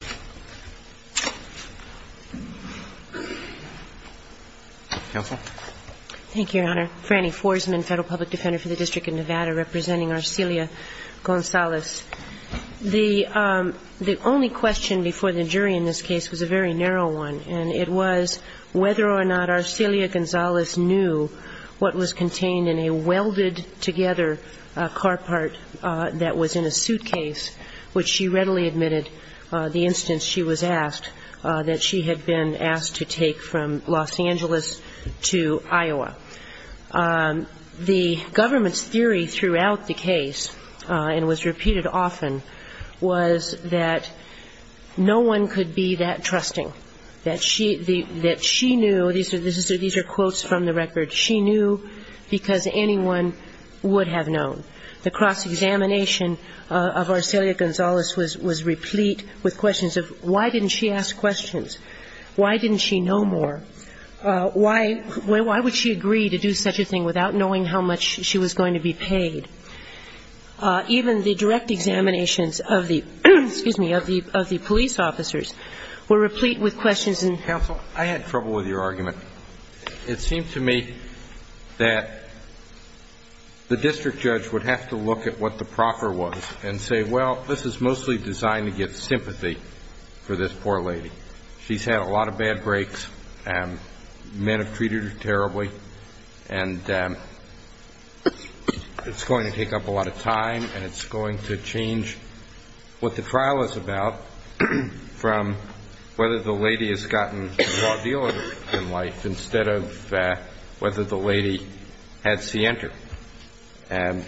was a very narrow one, and it was whether or not Arcelia Gonzalez knew what was contained in a welded-together car part that was in a suitcase, which she readily admitted, that she had been asked to take from Los Angeles to Iowa. The government's theory throughout the case, and was repeated often, was that no one could be that trusting, that she knew, these are quotes from the record, she knew because anyone would have known. The cross-examination of Arcelia Gonzalez was replete with questions of why didn't she ask questions? Why didn't she know more? Why would she agree to do such a thing without knowing how much she was going to be paid? Even the direct examinations of the police officers were replete with questions. I had trouble with your argument. It seemed to me that the district judge would have to look at what the proffer was and say, well, this is mostly designed to get sympathy for this poor lady. She's had a lot of bad breaks. Men have treated her terribly. And it's going to take up a lot of time and it's going to change what the trial is about from whether the lady has gotten a raw deal in life instead of whether the lady had cienter. And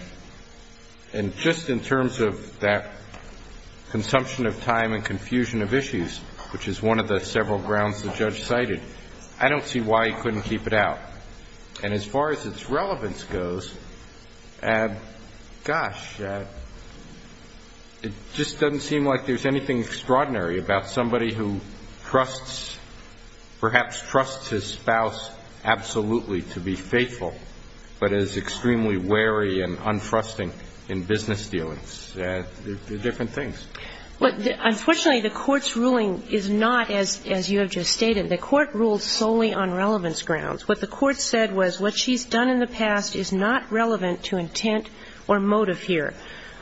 just in terms of that consumption of time and confusion of issues, which is one of the several grounds the judge cited, I don't see why he couldn't keep it out. And as far as its relevance goes, gosh, it just doesn't seem like there's anything extraordinary about somebody who trusts, perhaps trusts his spouse absolutely to be faithful, but is extremely wary and un-trusting in business dealings. They're different things. Unfortunately, the Court's ruling is not, as you have just stated, the Court ruled solely on relevance grounds. What the Court said was what she's done in the past is not relevant to intent or motive here.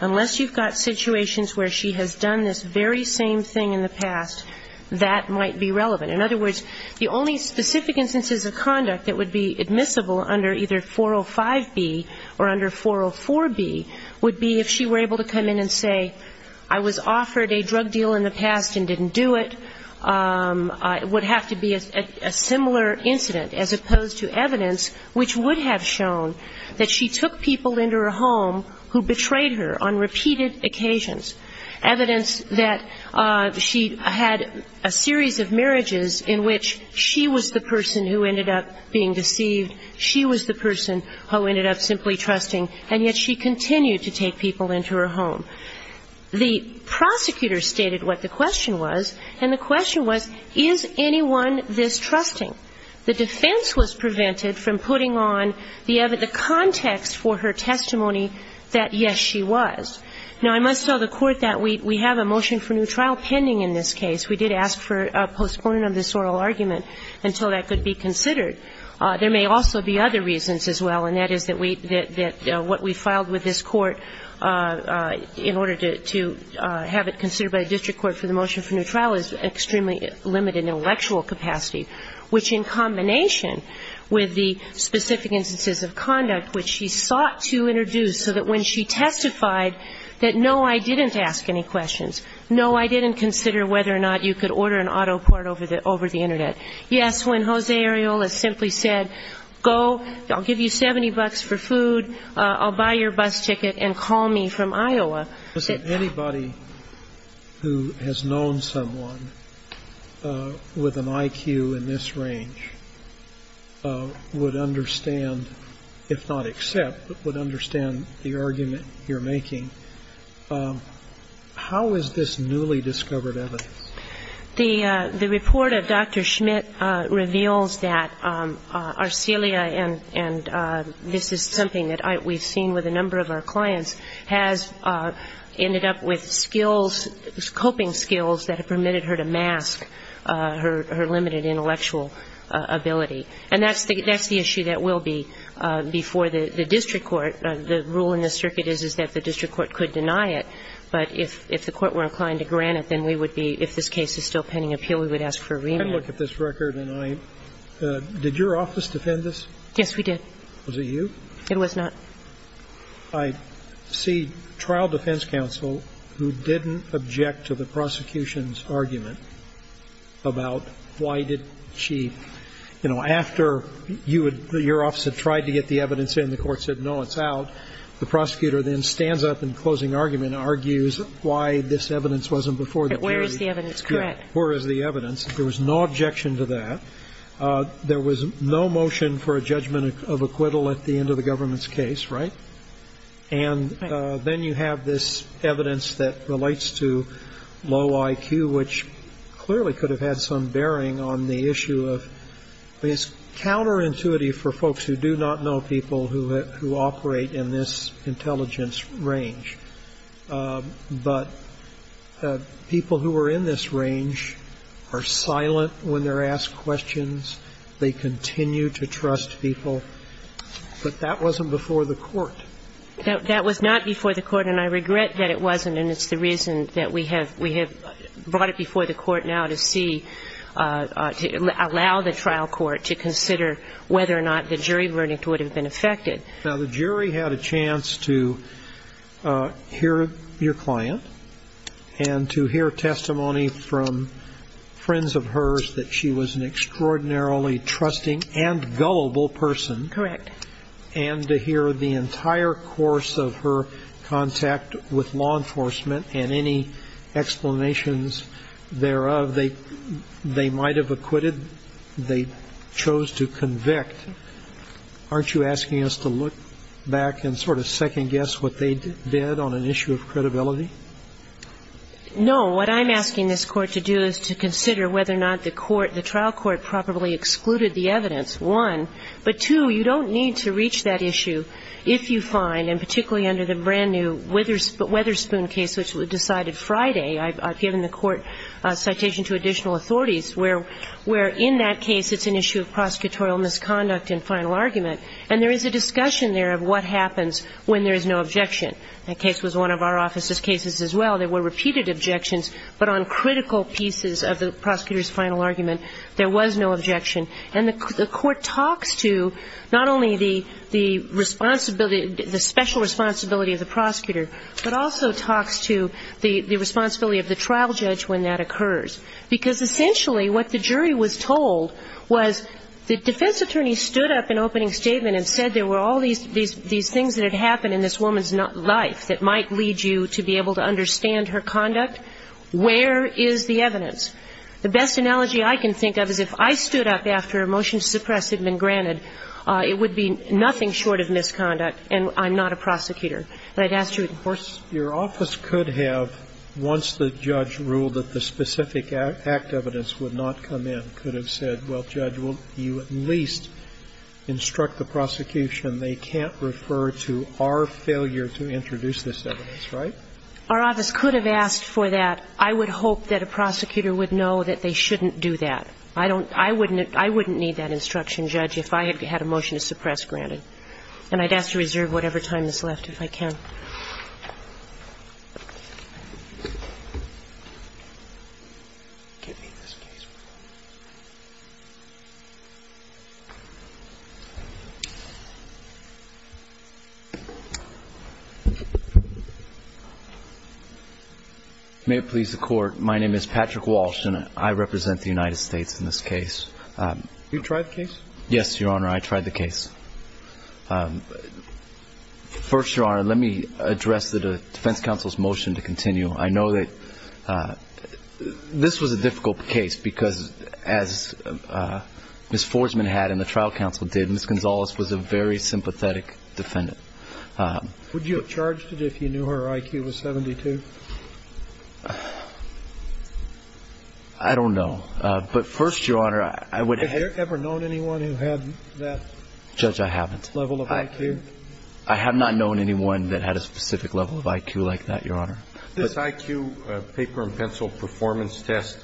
Unless you've got situations where she has done this very same thing in the past, that might be relevant. In other words, the only specific instances of conduct that would be admissible under either 405B or under 404B would be if she were able to come in and say, I was offered a drug deal in the past and didn't do it. It would have to be a similar incident as opposed to evidence which would have shown that she took people into her home who betrayed her on repeated occasions, evidence that she had a series of marriages in which she was the person who ended up being deceived, she was the person who ended up simply trusting, and yet she continued to take people into her home. The prosecutor stated what the question was, and the question was, is anyone distrusting? The defense was prevented from putting on the context for her testimony that, yes, she was. Now, I must tell the Court that we have a motion for new trial pending in this case. We did ask for a postponement of this oral argument until that could be considered. There may also be other reasons as well, and that is that what we filed with this Court in order to have it considered by the district court for the motion for new trial is extremely limited intellectual capacity, which in combination with the specific instances of conduct which she sought to introduce so that when she testified that, no, I didn't ask any questions, no, I didn't consider whether or not you could order an auto part over the Internet. Yes, when Jose Arreola simply said, go, I'll give you 70 bucks for food, I'll buy your bus ticket, and call me from Iowa. Anybody who has known someone with an IQ in this range would understand, if not accept, but would understand the argument you're making. How is this newly discovered evidence? The report of Dr. Schmidt reveals that Arcelia, and this is something that we've seen with a number of our clients, has ended up with skills, coping skills that have permitted her to mask her limited intellectual ability. And that's the issue that will be before the district court. The rule in this circuit is that the district court could deny it, but if the court were inclined to grant it, then we would be, if this case is still pending appeal, we would ask for a remand. I look at this record and I, did your office defend this? Yes, we did. Was it you? It was not. I see trial defense counsel who didn't object to the prosecution's argument about why did she, you know, after you would, your office had tried to get the evidence in, the court said no, it's out, the prosecutor then stands up in closing argument and argues why this evidence wasn't before the jury. But where is the evidence correct? Where is the evidence? There was no objection to that. There was no motion for a judgment of acquittal at the end of the government's case, right? Right. And then you have this evidence that relates to low IQ, which clearly could have had some bearing on the issue of, I mean, it's counterintuitive for folks who do not know people who operate in this intelligence range. But people who are in this range are silent when they're asked questions. They continue to trust people. But that wasn't before the court. That was not before the court, and I regret that it wasn't, and it's the reason that we have brought it before the court now to see, to allow the trial court to consider whether or not the jury verdict would have been affected. Now, the jury had a chance to hear your client and to hear testimony from friends of hers that she was an extraordinarily trusting and gullible person. Correct. And to hear the entire course of her contact with law enforcement and any explanations thereof they might have acquitted, they chose to convict. Aren't you asking us to look back and sort of second-guess what they did on an issue of credibility? No. What I'm asking this Court to do is to consider whether or not the court, the trial court, properly excluded the evidence, one. But, two, you don't need to reach that issue if you find, and particularly under the brand-new Witherspoon case which was decided Friday, I've given the court citation to additional authorities, where in that case it's an issue of prosecutorial misconduct in final argument, and there is a discussion there of what happens when there is no objection. That case was one of our office's cases as well. There were repeated objections, but on critical pieces of the prosecutor's final argument there was no objection. And the court talks to not only the responsibility, the special responsibility of the prosecutor, but also talks to the responsibility of the trial judge when that occurs. Because essentially what the jury was told was the defense attorney stood up in opening statement and said there were all these things that had happened in this woman's life that might lead you to be able to understand her conduct. Where is the evidence? The best analogy I can think of is if I stood up after a motion to suppress had been granted, it would be nothing short of misconduct and I'm not a prosecutor. And I'd ask you to enforce. Your office could have, once the judge ruled that the specific act evidence would not come in, could have said, well, judge, you at least instruct the prosecution they can't refer to our failure to introduce this evidence, right? Our office could have asked for that. But I would hope that a prosecutor would know that they shouldn't do that. I don't, I wouldn't, I wouldn't need that instruction, judge, if I had a motion to suppress granted. And I'd ask to reserve whatever time is left if I can. May it please the court. My name is Patrick Walsh and I represent the United States in this case. You tried the case? Yes, Your Honor. I tried the case. First, Your Honor, let me address the defense counsel's motion to continue. I know that this was a difficult case because as Ms. Forsman had and the trial counsel did, Ms. Gonzalez was a very sympathetic defendant. Would you have charged it if you knew her IQ was 72? I don't know. But first, Your Honor, I would have. Have you ever known anyone who had that? Judge, I haven't. Level of IQ? I have not known anyone that had a specific level of IQ like that, Your Honor. This IQ paper and pencil performance test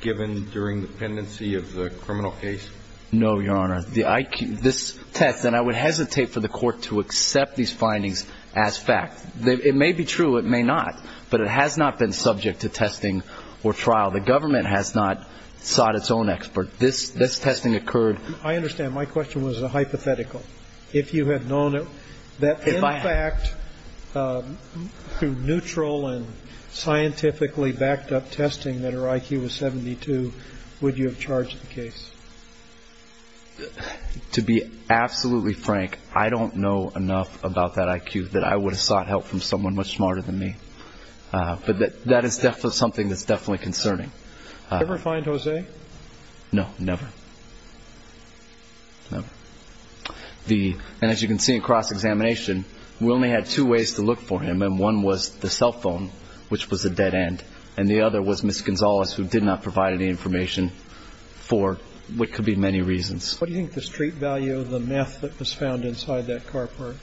given during the pendency of the criminal case? No, Your Honor. The IQ, this test, and I would hesitate for the court to accept these findings as fact. It may be true, it may not. But it has not been subject to testing or trial. The government has not sought its own expert. This testing occurred. I understand. My question was a hypothetical. If you had known that, in fact, through neutral and scientifically backed up testing that her IQ was 72, would you have charged the case? To be absolutely frank, I don't know enough about that IQ that I would have sought help from someone much smarter than me. But that is something that's definitely concerning. Did you ever find Jose? No, never. And as you can see in cross-examination, we only had two ways to look for him, and one was the cell phone, which was a dead end, and the other was Ms. Gonzalez, who did not provide any information for what could be many reasons. What do you think the street value of the meth that was found inside that car park?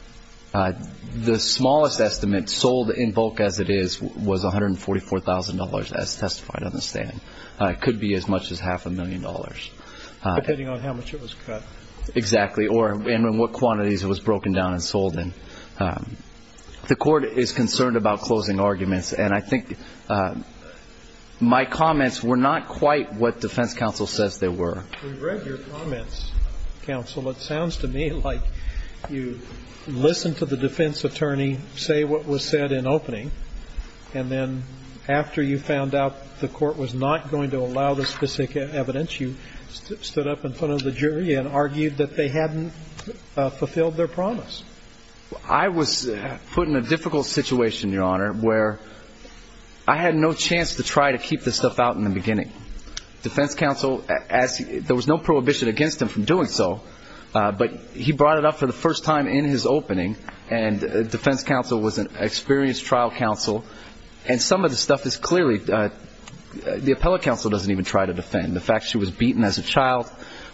The smallest estimate, sold in bulk as it is, was $144,000, as testified on the stand. It could be as much as half a million dollars. Depending on how much it was cut. Exactly. Or in what quantities it was broken down and sold in. The court is concerned about closing arguments. And I think my comments were not quite what defense counsel says they were. We've read your comments, counsel. It sounds to me like you listened to the defense attorney say what was said in opening, and then after you found out the court was not going to allow the evidence, you stood up in front of the jury and argued that they hadn't fulfilled their promise. I was put in a difficult situation, Your Honor, where I had no chance to try to keep this stuff out in the beginning. Defense counsel, there was no prohibition against him from doing so, but he brought it up for the first time in his opening, and defense counsel was an experienced trial counsel, and some of the stuff is clearly, the appellate counsel doesn't even try to defend. The fact she was beaten as a child.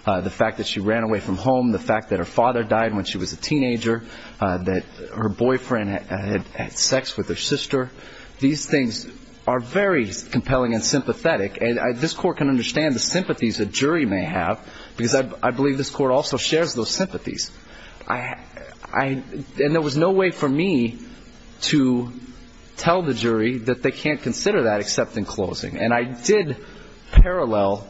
The fact that she ran away from home. The fact that her father died when she was a teenager. That her boyfriend had sex with her sister. These things are very compelling and sympathetic, and this court can understand the sympathies a jury may have, because I believe this court also shares those sympathies. And there was no way for me to tell the jury that they can't consider that except in closing. And I did parallel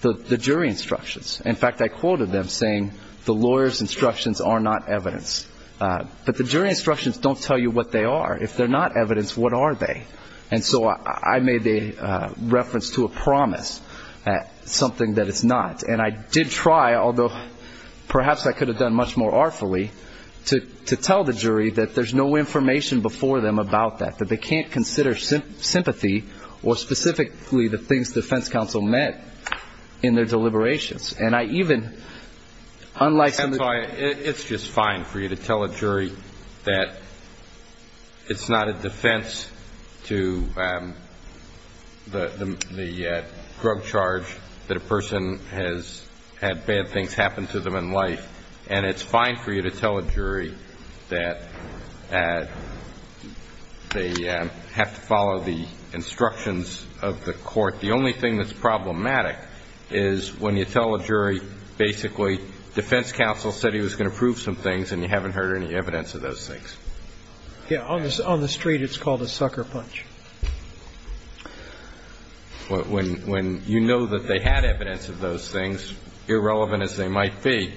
the jury instructions. In fact, I quoted them saying the lawyer's instructions are not evidence. But the jury instructions don't tell you what they are. If they're not evidence, what are they? And so I made a reference to a promise, something that it's not. And I did try, although perhaps I could have done much more artfully, to tell the jury that there's no information before them about that, that they can't consider sympathy or specifically the things defense counsel meant in their deliberations. And I even, unlike some of the others. It's just fine for you to tell a jury that it's not a defense to the drug charge that a person has had bad things happen to them in life, and it's fine for you to tell a jury that they have to follow the instructions of the court. The only thing that's problematic is when you tell a jury basically defense counsel said he was going to prove some things and you haven't heard any evidence of those things. Yeah. On the street it's called a sucker punch. When you know that they had evidence of those things, irrelevant as they might be,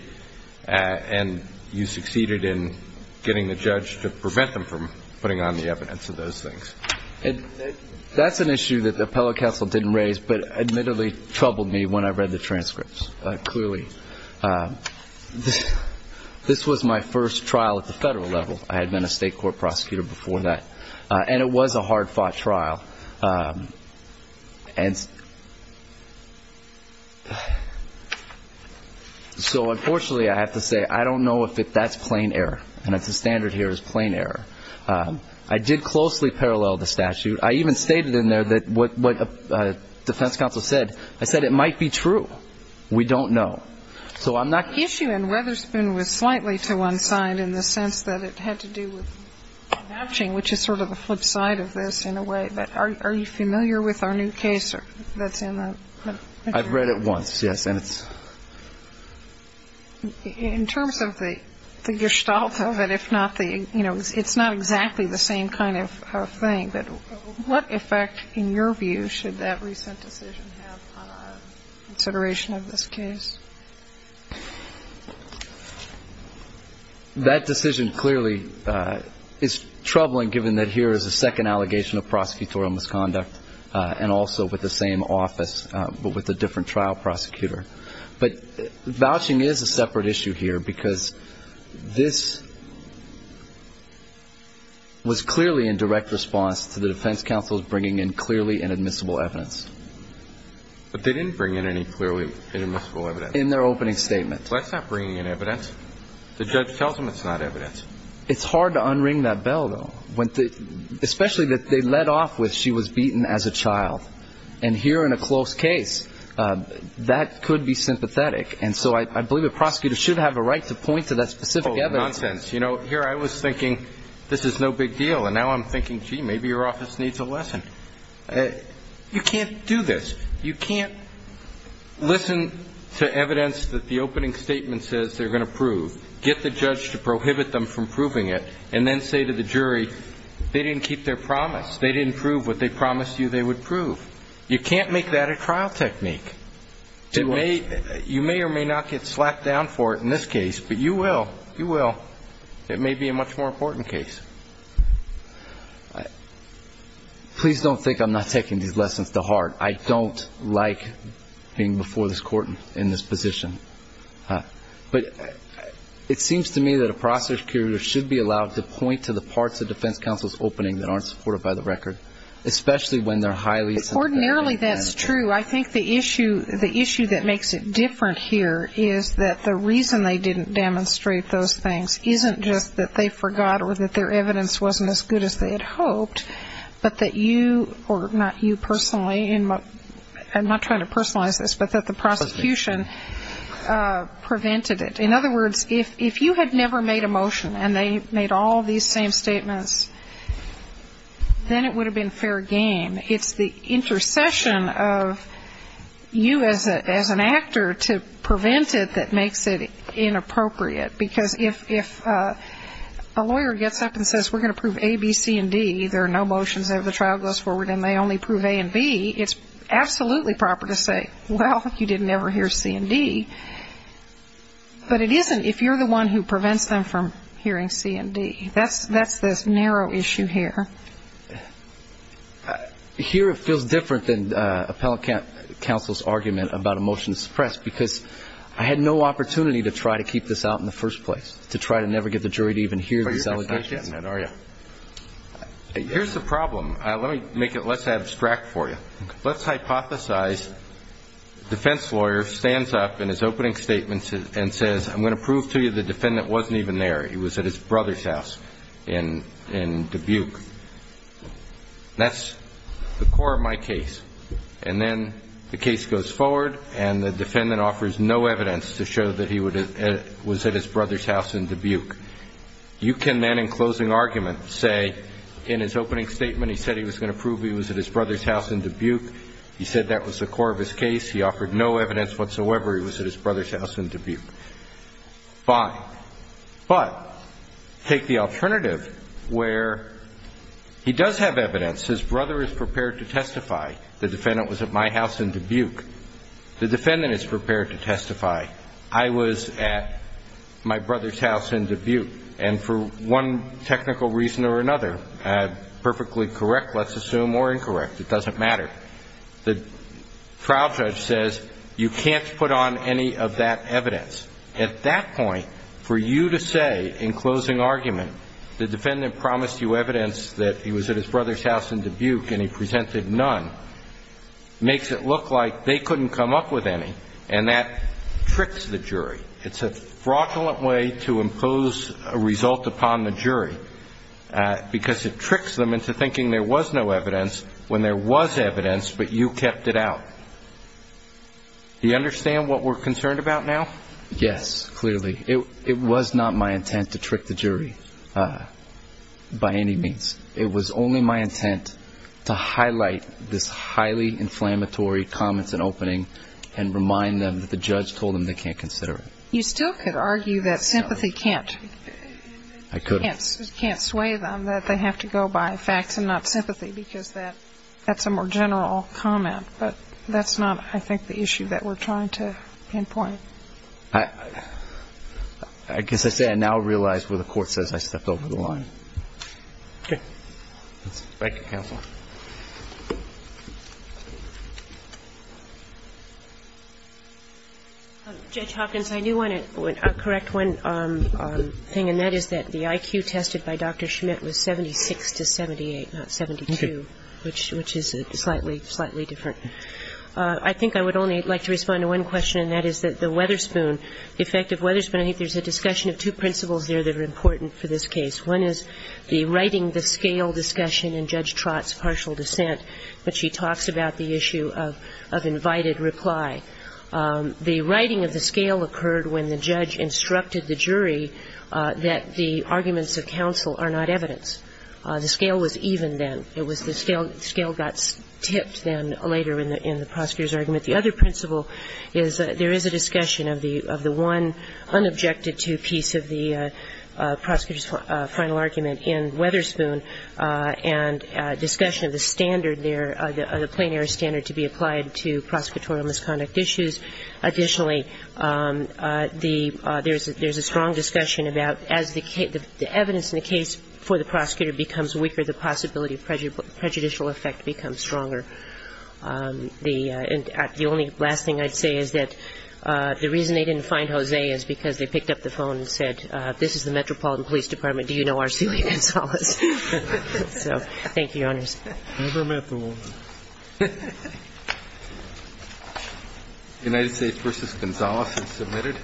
and you succeeded in getting the judge to prevent them from putting on the evidence of those things. That's an issue that the appellate counsel didn't raise, but admittedly troubled me when I read the transcripts, clearly. This was my first trial at the federal level. I had been a state court prosecutor before that. And it was a hard-fought trial. So, unfortunately, I have to say I don't know if that's plain error, and that's the standard here is plain error. I did closely parallel the statute. I even stated in there what defense counsel said. I said it might be true. We don't know. So I'm not going to say it's true. I'm going to go to the flip side of this in a way. But are you familiar with our new case that's in the? I've read it once, yes. And it's. In terms of the gestalt of it, if not the, you know, it's not exactly the same kind of thing. But what effect, in your view, should that recent decision have on our consideration of this case? That decision clearly is troubling, given that here is a second allegation of prosecutorial misconduct, and also with the same office, but with a different trial prosecutor. But vouching is a separate issue here, because this was clearly in direct response to the defense counsel's bringing in clearly inadmissible evidence. But they didn't bring in any clearly inadmissible evidence. In their opening statement. Well, that's not bringing in evidence. The judge tells them it's not evidence. It's hard to unring that bell, though. Especially that they led off with she was beaten as a child. And here in a close case, that could be sympathetic. And so I believe a prosecutor should have a right to point to that specific evidence. Nonsense. You know, here I was thinking this is no big deal. And now I'm thinking, gee, maybe your office needs a lesson. You can't do this. You can't listen to evidence that the opening statement says they're going to prove, get the judge to prohibit them from proving it, and then say to the jury, they didn't keep their promise. They didn't prove what they promised you they would prove. You can't make that a trial technique. You may or may not get slapped down for it in this case. But you will. You will. It may be a much more important case. Please don't think I'm not taking these lessons to heart. I don't like being before this court in this position. But it seems to me that a prosecutor should be allowed to point to the parts of defense counsel's opening that aren't supported by the record, especially when they're highly sympathetic. Ordinarily that's true. I think the issue that makes it different here is that the reason they didn't demonstrate those things isn't just that they forgot or that their evidence wasn't as good as they had hoped, but that you, or not you personally, and I'm not trying to personalize this, but that the prosecution prevented it. In other words, if you had never made a motion and they made all these same statements, then it would have been fair game. It's the intercession of you as an actor to prevent it that makes it inappropriate, because if a lawyer gets up and says, we're going to prove A, B, C, and D, there are no motions that the trial goes forward and they only prove A and B, it's absolutely proper to say, well, you didn't ever hear C and D. But it isn't if you're the one who prevents them from hearing C and D. That's the narrow issue here. Here it feels different than appellate counsel's argument about a motion to try to keep this out in the first place, to try to never get the jury to even hear But you're just not getting that, are you? Here's the problem. Let me make it less abstract for you. Let's hypothesize defense lawyer stands up in his opening statements and says, I'm going to prove to you the defendant wasn't even there. He was at his brother's house in Dubuque. That's the core of my case. And then the case goes forward and the defendant offers no evidence to show that he was at his brother's house in Dubuque. You can then in closing argument say in his opening statement he said he was going to prove he was at his brother's house in Dubuque. He said that was the core of his case. He offered no evidence whatsoever he was at his brother's house in Dubuque. Fine. But take the alternative where he does have evidence. His brother is prepared to testify. The defendant is prepared to testify. I was at my brother's house in Dubuque. And for one technical reason or another, perfectly correct, let's assume, or incorrect, it doesn't matter. The trial judge says you can't put on any of that evidence. At that point, for you to say in closing argument the defendant promised you evidence that he was at his brother's house in Dubuque and he presented none makes it look like they couldn't come up with any. And that tricks the jury. It's a fraudulent way to impose a result upon the jury because it tricks them into thinking there was no evidence when there was evidence but you kept it out. Do you understand what we're concerned about now? Yes, clearly. It was not my intent to trick the jury by any means. It was only my intent to highlight this highly inflammatory comments in opening and remind them that the judge told them they can't consider it. You still could argue that sympathy can't sway them, that they have to go by facts and not sympathy because that's a more general comment. But that's not, I think, the issue that we're trying to pinpoint. I guess I say I now realize where the Court says I stepped over the line. Okay. Thank you, counsel. Judge Hopkins, I do want to correct one thing, and that is that the IQ tested by Dr. Schmidt was 76 to 78, not 72, which is slightly, slightly different. I think I would only like to respond to one question, and that is that the Weatherspoon the effect of Weatherspoon, I think there's a discussion of two principles there that are important for this case. One is the writing the scale discussion in Judge Trott's partial dissent, but she talks about the issue of invited reply. The writing of the scale occurred when the judge instructed the jury that the arguments of counsel are not evidence. The scale was even then. It was the scale that got tipped then later in the prosecutor's argument. The other principle is there is a discussion of the one unobjected to piece of the final argument in Weatherspoon and discussion of the standard there, the plain error standard to be applied to prosecutorial misconduct issues. Additionally, there's a strong discussion about as the evidence in the case for the prosecutor becomes weaker, the possibility of prejudicial effect becomes stronger. The only last thing I'd say is that the reason they didn't find Jose is because they picked up the phone and said, this is the Metropolitan Police Department, do you know R. Celia Gonzalez? So thank you, Your Honors. Never met the woman. United States v. Gonzalez is submitted.